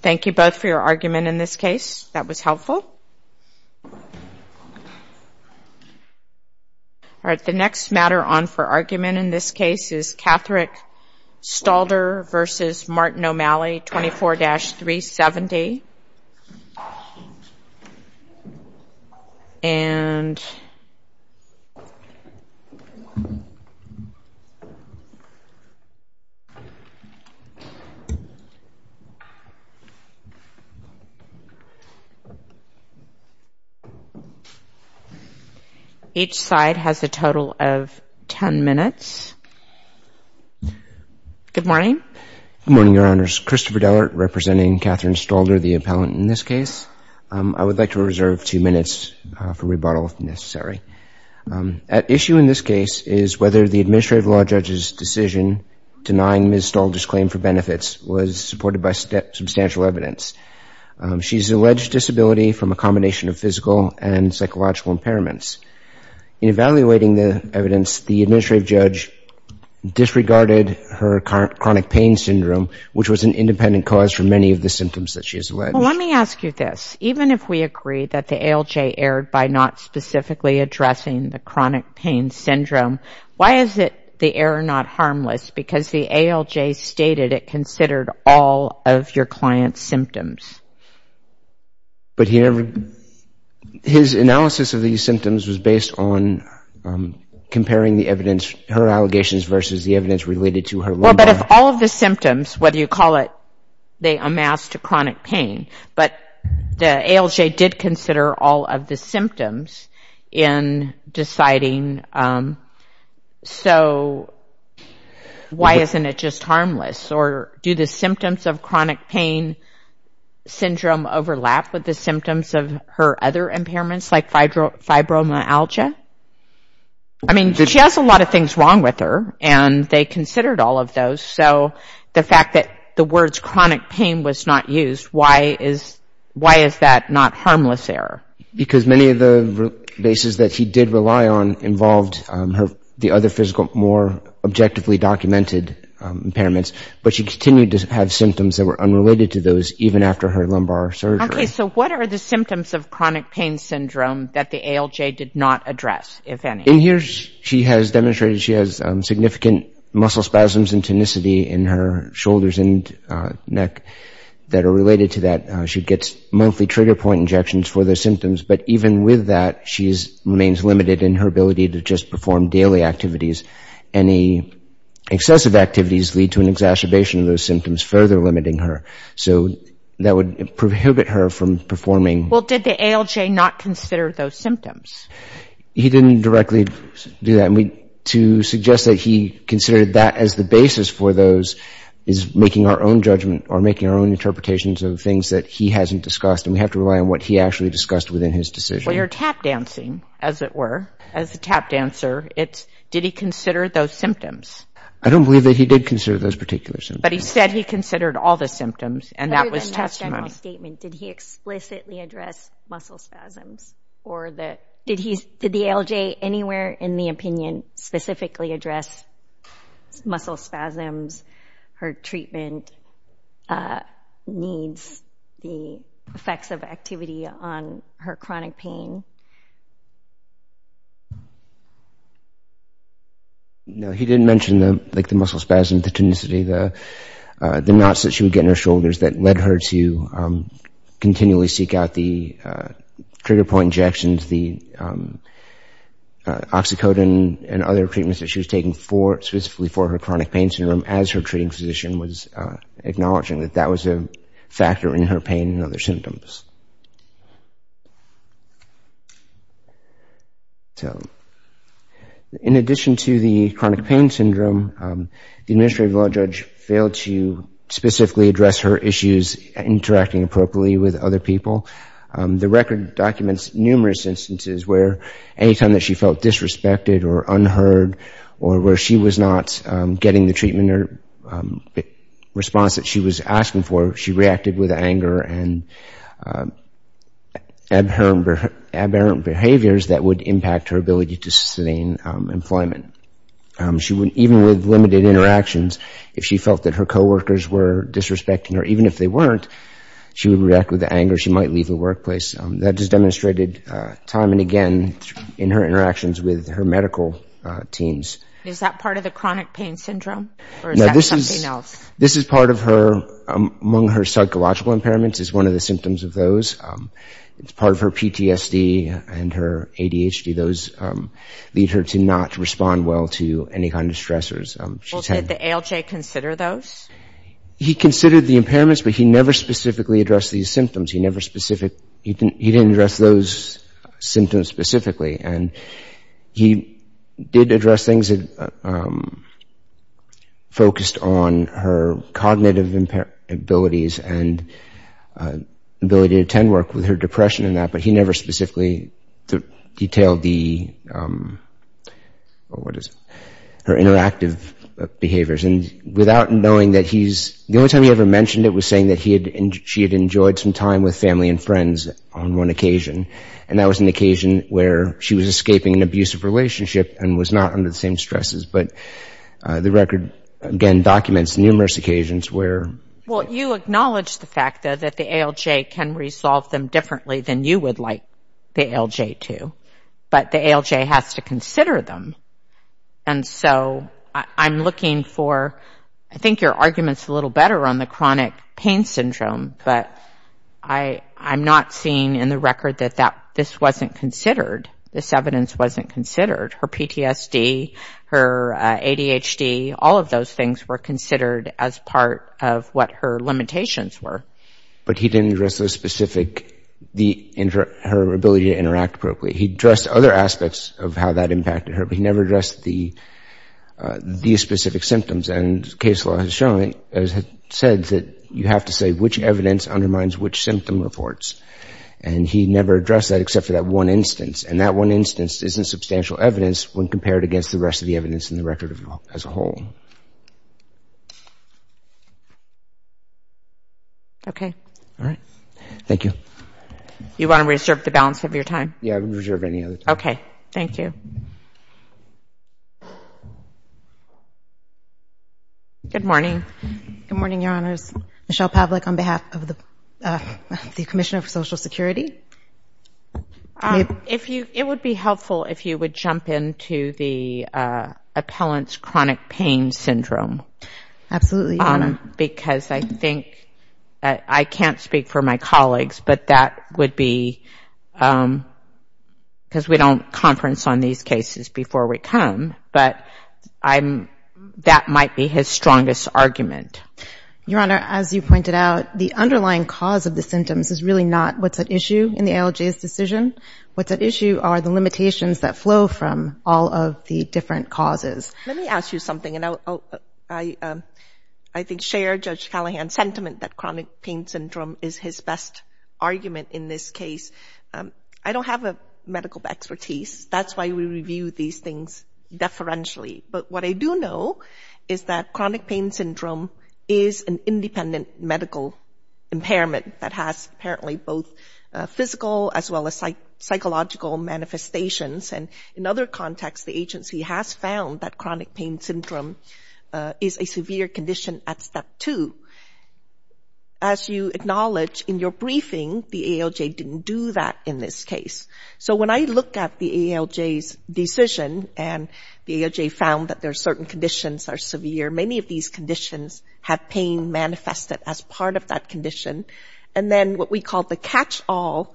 Thank you both for your argument in this case. That was helpful. The next matter on for argument in this case is Patrick Stalder v. Martin O'Malley, 24-370. And each side has a total of 10 minutes. Good morning. Good morning, Your Honors. Christopher Dellert representing Katherine Stalder, the appellant in this case. I would like to reserve two minutes for rebuttal if necessary. At issue in this case is whether the administrative law judge's decision denying Ms. Stalder's claim for benefits was supported by substantial evidence. She's alleged disability from a combination of physical and psychological impairments. In evaluating the evidence, the administrative judge disregarded her chronic pain syndrome, which was an independent cause for many of the symptoms that she has alleged. Well, let me ask you this. Even if we agree that the ALJ erred by not specifically addressing the chronic pain syndrome, why is it the error not harmless because the ALJ stated it considered all of your client's symptoms? But his analysis of these symptoms was based on comparing the evidence, her allegations versus the evidence related to her lumbar. Well, but if all of the symptoms, whether you call it they amassed a chronic pain, but the ALJ did consider all of the symptoms in deciding, so why isn't it just harmless? Or do the symptoms of chronic pain syndrome overlap with the symptoms of her other impairments like fibromyalgia? I mean, she has a lot of things wrong with her, and they considered all of those, so the fact that the words chronic pain was not used, why is that not harmless error? Because many of the bases that she did rely on involved the other physical, more objectively documented impairments, but she continued to have symptoms that were unrelated to those even after her lumbar surgery. Okay, so what are the symptoms of chronic pain syndrome that the ALJ did not address, if any? In here, she has demonstrated she has significant muscle spasms and tonicity in her shoulders and neck that are related to that. She gets monthly trigger point injections for those symptoms, but even with that, she remains limited in her ability to just perform daily activities. Any excessive activities lead to an exacerbation of those symptoms, further limiting her, so that would prohibit her from performing. Well, did the ALJ not consider those symptoms? He didn't directly do that. To suggest that he considered that as the basis for those is making our own judgment or making our own interpretations of things that he hasn't discussed, and we have to rely on what he actually discussed within his decision. Well, you're tap dancing, as it were, as a tap dancer. It's, did he consider those symptoms? I don't believe that he did consider those particular symptoms. But he said he considered all the symptoms, and that was testimony. Other than that general statement, did he explicitly address muscle spasms? Did the ALJ anywhere in the opinion specifically address muscle spasms, her treatment needs, the effects of activity on her chronic pain? No, he didn't mention the muscle spasms, the tonicity, the knots that she would get in her shoulders that led her to continually seek out the trigger point injections, the oxycodone, and other treatments that she was taking specifically for her chronic pain syndrome as her treating physician was acknowledging that that was a factor in her pain and other symptoms. In addition to the chronic pain syndrome, the administrative law judge failed to specifically address her issues interacting appropriately with other people. The record documents numerous instances where any time that she felt disrespected or unheard, or where she was not getting the treatment or response that she was asking for, she reacted with anger and aberrant behaviors that would impact her ability to sustain employment. Even with limited interactions, if she felt that her coworkers were disrespecting her, even if they weren't, she would react with anger, she might leave the workplace. That is demonstrated time and again in her interactions with her medical teams. Is that part of the chronic pain syndrome or is that something else? This is part of her, among her psychological impairments is one of the symptoms of those. It's part of her PTSD and her ADHD. Those lead her to not respond well to any kind of stressors. Well, did the ALJ consider those? He considered the impairments, but he never specifically addressed these symptoms. He never specific, he didn't address those symptoms specifically. And he did address things that focused on her cognitive abilities and ability to attend work with her depression and that, but he never specifically detailed the, what is it, her interactive behaviors. And without knowing that he's, the only time he ever mentioned it was saying that she had enjoyed some time with family and friends on one occasion. And that was an occasion where she was escaping an abusive relationship and was not under the same stresses. But the record, again, documents numerous occasions where... Well, you acknowledge the fact, though, that the ALJ can resolve them differently than you would like the ALJ to. But the ALJ has to consider them. And so I'm looking for, I think your argument's a little better on the chronic pain syndrome, but I'm not seeing in the record that this wasn't considered, this evidence wasn't considered. Her PTSD, her ADHD, all of those things were considered as part of what her limitations were. But he didn't address the specific, her ability to interact appropriately. He addressed other aspects of how that impacted her, but he never addressed the specific symptoms. And case law has shown, has said that you have to say which evidence undermines which symptom reports. And he never addressed that except for that one instance. And that one instance isn't substantial evidence when compared against the rest of the evidence in the record as a whole. Okay. All right. Thank you. You want to reserve the balance of your time? Yeah, I would reserve any other time. Okay. Thank you. Good morning. Good morning, Your Honors. Michelle Pavlik on behalf of the Commissioner for Social Security. It would be helpful if you would jump into the appellant's chronic pain syndrome. Absolutely, Your Honor. Because I think, I can't speak for my colleagues, but that would be, because we don't conference on these cases before we come, but that might be his strongest argument. Your Honor, as you pointed out, the underlying cause of the symptoms is really not what's at issue in the ALJ's decision. What's at issue are the limitations that flow from all of the different causes. Let me ask you something. I think share Judge Callahan's sentiment that chronic pain syndrome is his best argument in this case. I don't have a medical expertise. That's why we review these things deferentially. But what I do know is that chronic pain syndrome is an independent medical impairment that has apparently both physical as well as psychological manifestations. And in other contexts, the agency has found that chronic pain syndrome is a severe condition at step two. As you acknowledge, in your briefing, the ALJ didn't do that in this case. So when I look at the ALJ's decision, and the ALJ found that there are certain conditions that are severe, many of these conditions have pain manifested as part of that condition. And then what we call the catch-all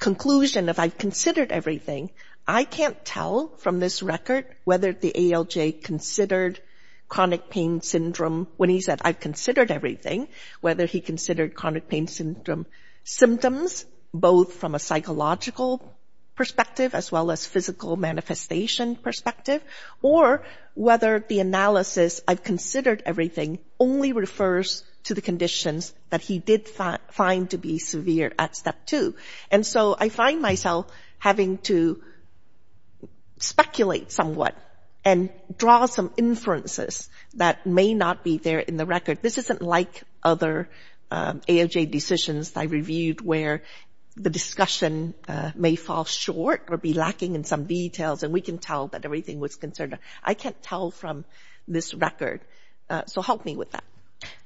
conclusion of, I've considered everything, I can't tell from this record whether the ALJ considered chronic pain syndrome, when he said, I've considered everything, whether he considered chronic pain syndrome symptoms, both from a psychological perspective as well as physical manifestation perspective, or whether the analysis, I've considered everything, only refers to the conditions that he did find to be severe at step two. And so I find myself having to speculate somewhat and draw some inferences that may not be there in the record. This isn't like other ALJ decisions I reviewed where the discussion may fall short or be lacking in some details and we can tell that everything was considered. I can't tell from this record. So help me with that.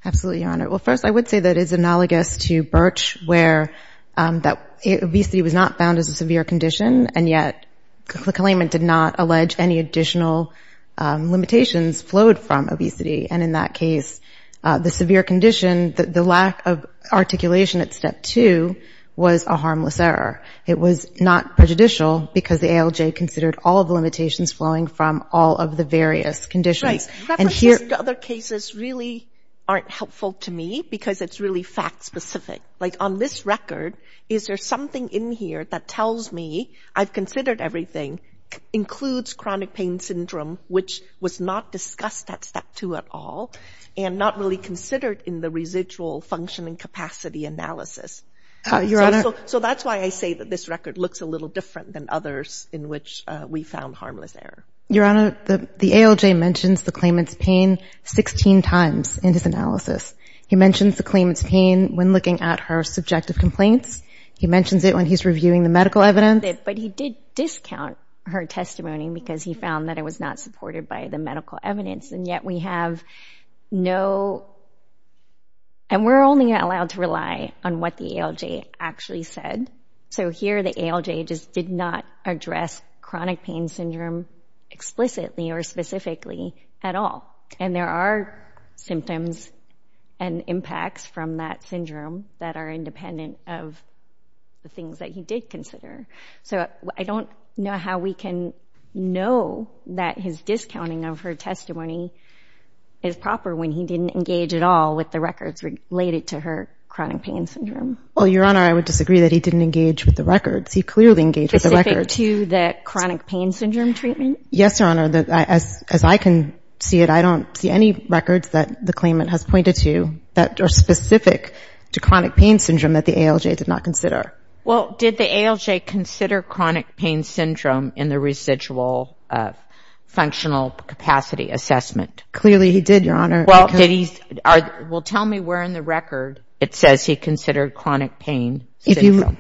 Absolutely, Your Honor. Well, first, I would say that it's analogous to Birch, where obesity was not found as a severe condition, and yet the claimant did not allege any additional limitations flowed from obesity. And in that case, the severe condition, the lack of articulation at step two was a harmless error. It was not prejudicial because the ALJ considered all of the limitations flowing from all of the various conditions. Right. References to other cases really aren't helpful to me because it's really fact-specific. Like on this record, is there something in here that tells me I've considered everything, includes chronic pain syndrome, which was not discussed at step two at all, and not really considered in the residual functioning capacity analysis. So that's why I say that this record looks a little different than others in which we found harmless error. Your Honor, the ALJ mentions the claimant's pain 16 times in his analysis. He mentions the claimant's pain when looking at her subjective complaints. He mentions it when he's reviewing the medical evidence. But he did discount her testimony because he found that it was not supported by the medical evidence, and yet we have no—and we're only allowed to rely on what the ALJ actually said. So here the ALJ just did not address chronic pain syndrome explicitly or specifically at all. And there are symptoms and impacts from that syndrome that are independent of the things that he did consider. So I don't know how we can know that his discounting of her testimony is proper when he didn't engage at all with the records related to her chronic pain syndrome. Well, Your Honor, I would disagree that he didn't engage with the records. He clearly engaged with the records. Specific to the chronic pain syndrome treatment? Yes, Your Honor. As I can see it, I don't see any records that the claimant has pointed to that are specific to chronic pain syndrome that the ALJ did not consider. Well, did the ALJ consider chronic pain syndrome in the residual functional capacity assessment? Clearly he did, Your Honor. Well, did he—well, tell me where in the record it says he considered chronic pain syndrome.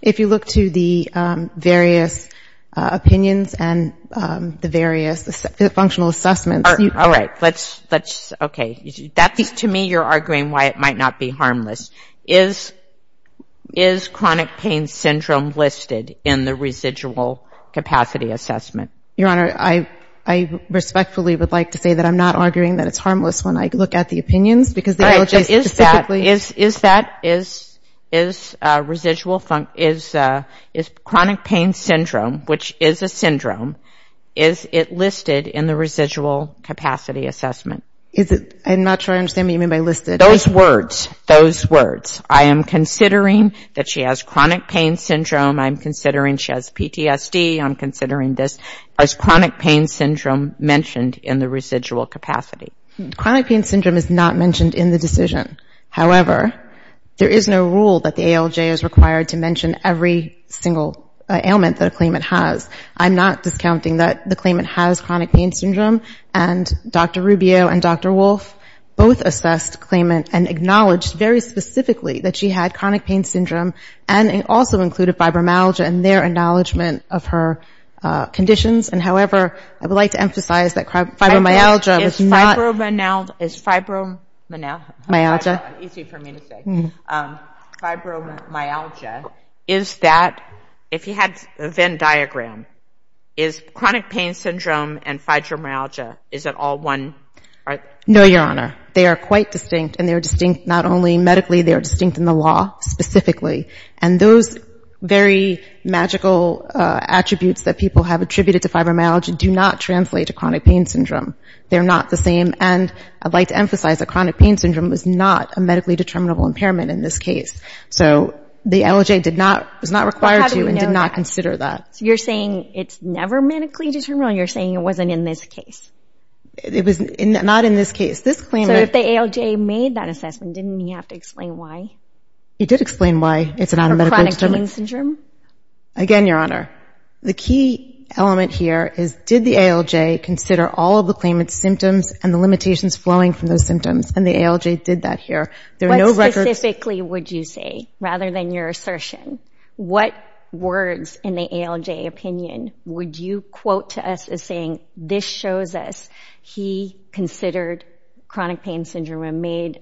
If you look to the various opinions and the various functional assessments— All right. Let's—okay. To me, you're arguing why it might not be harmless. Is chronic pain syndrome listed in the residual capacity assessment? Your Honor, I respectfully would like to say that I'm not arguing that it's harmless when I look at the opinions because the ALJ specifically— Is that—is chronic pain syndrome, which is a syndrome, is it listed in the residual capacity assessment? I'm not sure I understand what you mean by listed. Those words. Those words. I am considering that she has chronic pain syndrome. I'm considering she has PTSD. I'm considering this. Is chronic pain syndrome mentioned in the residual capacity? Chronic pain syndrome is not mentioned in the decision. However, there is no rule that the ALJ is required to mention every single ailment that a claimant has. I'm not discounting that the claimant has chronic pain syndrome, and Dr. Rubio and Dr. Wolfe both assessed the claimant and acknowledged very specifically that she had chronic pain syndrome and also included fibromyalgia in their acknowledgement of her conditions. And however, I would like to emphasize that fibromyalgia is not— Fibromyalgia is fibromyalgia. Easy for me to say. Fibromyalgia is that, if you had a Venn diagram, is chronic pain syndrome and fibromyalgia, is it all one? No, Your Honor. They are quite distinct, and they are distinct not only medically, they are distinct in the law specifically. And those very magical attributes that people have attributed to fibromyalgia do not translate to chronic pain syndrome. They're not the same. And I'd like to emphasize that chronic pain syndrome is not a medically determinable impairment in this case. So the ALJ was not required to and did not consider that. So you're saying it's never medically determinable, and you're saying it wasn't in this case? It was not in this case. So if the ALJ made that assessment, didn't he have to explain why? He did explain why it's not a medical— For chronic pain syndrome? Again, Your Honor, the key element here is, did the ALJ consider all of the claimant's symptoms and the limitations flowing from those symptoms? And the ALJ did that here. What specifically would you say, rather than your assertion? What words in the ALJ opinion would you quote to us as saying, this shows us he considered chronic pain syndrome and made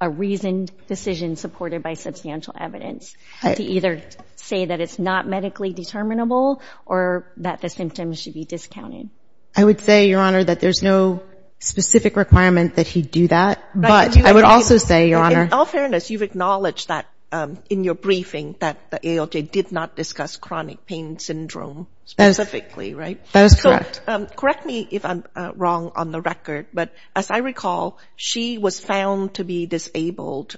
a reasoned decision supported by substantial evidence to either say that it's not medically determinable or that the symptoms should be discounted? I would say, Your Honor, that there's no specific requirement that he do that. But I would also say, Your Honor— In all fairness, you've acknowledged that in your briefing that the ALJ did not discuss chronic pain syndrome specifically, right? That is correct. So correct me if I'm wrong on the record, but as I recall, she was found to be disabled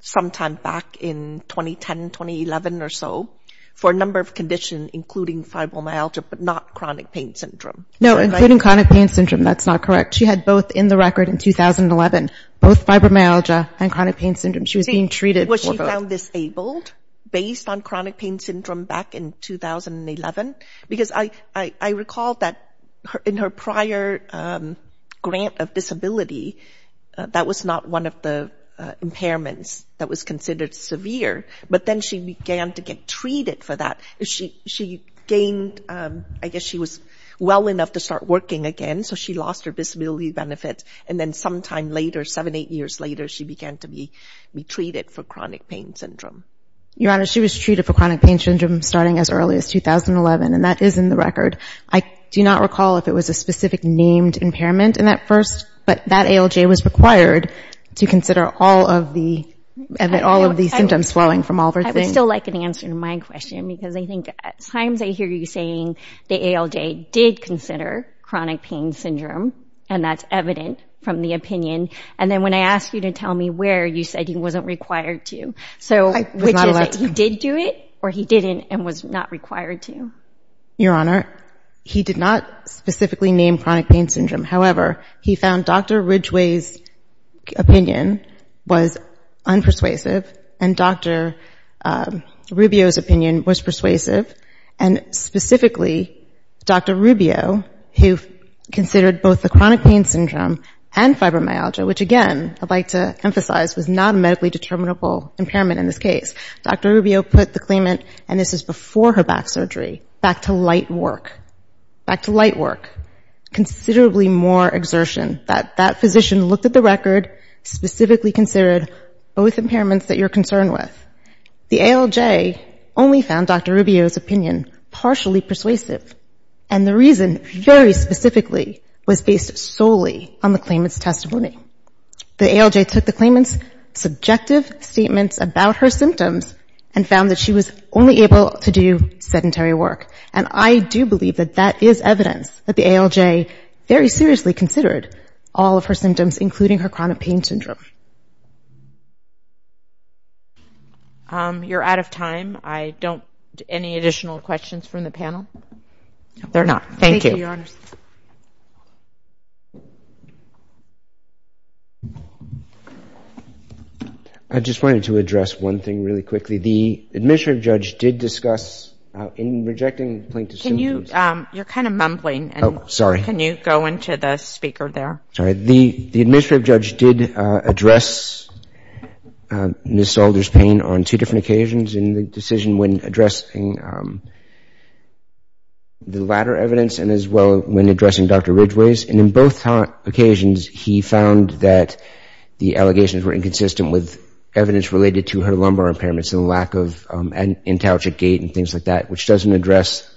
sometime back in 2010, 2011 or so for a number of conditions, including fibromyalgia, but not chronic pain syndrome. No, including chronic pain syndrome, that's not correct. She had both in the record in 2011, both fibromyalgia and chronic pain syndrome. She was being treated for both. She was found disabled based on chronic pain syndrome back in 2011. Because I recall that in her prior grant of disability, that was not one of the impairments that was considered severe. But then she began to get treated for that. She gained—I guess she was well enough to start working again, so she lost her disability benefits. And then sometime later, seven, eight years later, she began to be treated for chronic pain syndrome. Your Honor, she was treated for chronic pain syndrome starting as early as 2011, and that is in the record. I do not recall if it was a specific named impairment in that first, but that ALJ was required to consider all of the symptoms flowing from all of her things. I would still like an answer to my question, because I think at times I hear you saying the ALJ did consider chronic pain syndrome, and that's evident from the opinion. And then when I asked you to tell me where, you said he wasn't required to, which is that he did do it or he didn't and was not required to. Your Honor, he did not specifically name chronic pain syndrome. However, he found Dr. Ridgeway's opinion was unpersuasive and Dr. Rubio's opinion was persuasive, and specifically Dr. Rubio, who considered both the chronic pain syndrome and fibromyalgia, which again I'd like to emphasize was not a medically determinable impairment in this case. Dr. Rubio put the claimant—and this is before her back surgery—back to light work, considerably more exertion. That physician looked at the record, specifically considered both impairments that you're concerned with. The ALJ only found Dr. Rubio's opinion partially persuasive, and the reason very specifically was based solely on the claimant's testimony. The ALJ took the claimant's subjective statements about her symptoms and found that she was only able to do sedentary work. And I do believe that that is evidence that the ALJ very seriously considered all of her symptoms, including her chronic pain syndrome. You're out of time. I don't—any additional questions from the panel? They're not. Thank you. I just wanted to address one thing really quickly. The administrative judge did discuss in rejecting plaintiff's symptoms— Can you—you're kind of mumbling. Oh, sorry. Can you go into the speaker there? Sorry. The administrative judge did address Ms. Salter's pain on two different occasions in the decision when addressing the latter evidence and as well when addressing Dr. Ridgeway's. And in both occasions, he found that the allegations were inconsistent with evidence related to her lumbar impairments and the lack of intagic gait and things like that, which doesn't address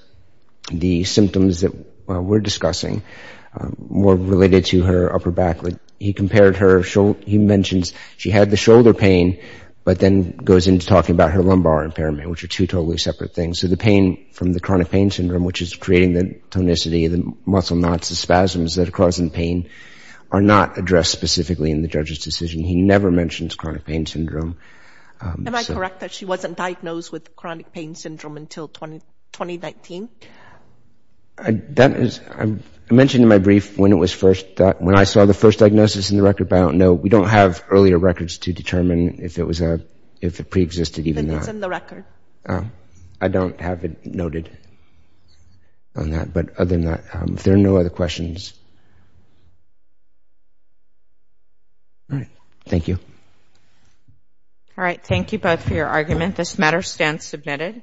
the symptoms that we're discussing more related to her upper back. He compared her—he mentions she had the shoulder pain, but then goes into talking about her lumbar impairment, which are two totally separate things. So the pain from the chronic pain syndrome, which is creating the tonicity, the muscle knots, the spasms that are causing pain, are not addressed specifically in the judge's decision. He never mentions chronic pain syndrome. Am I correct that she wasn't diagnosed with chronic pain syndrome until 2019? That is—I mentioned in my brief when it was first— when I saw the first diagnosis in the record, but I don't know. We don't have earlier records to determine if it was a—if it preexisted even then. It's in the record. I don't have it noted on that. But other than that, if there are no other questions— All right. Thank you. All right. Thank you both for your argument. This matter stands submitted.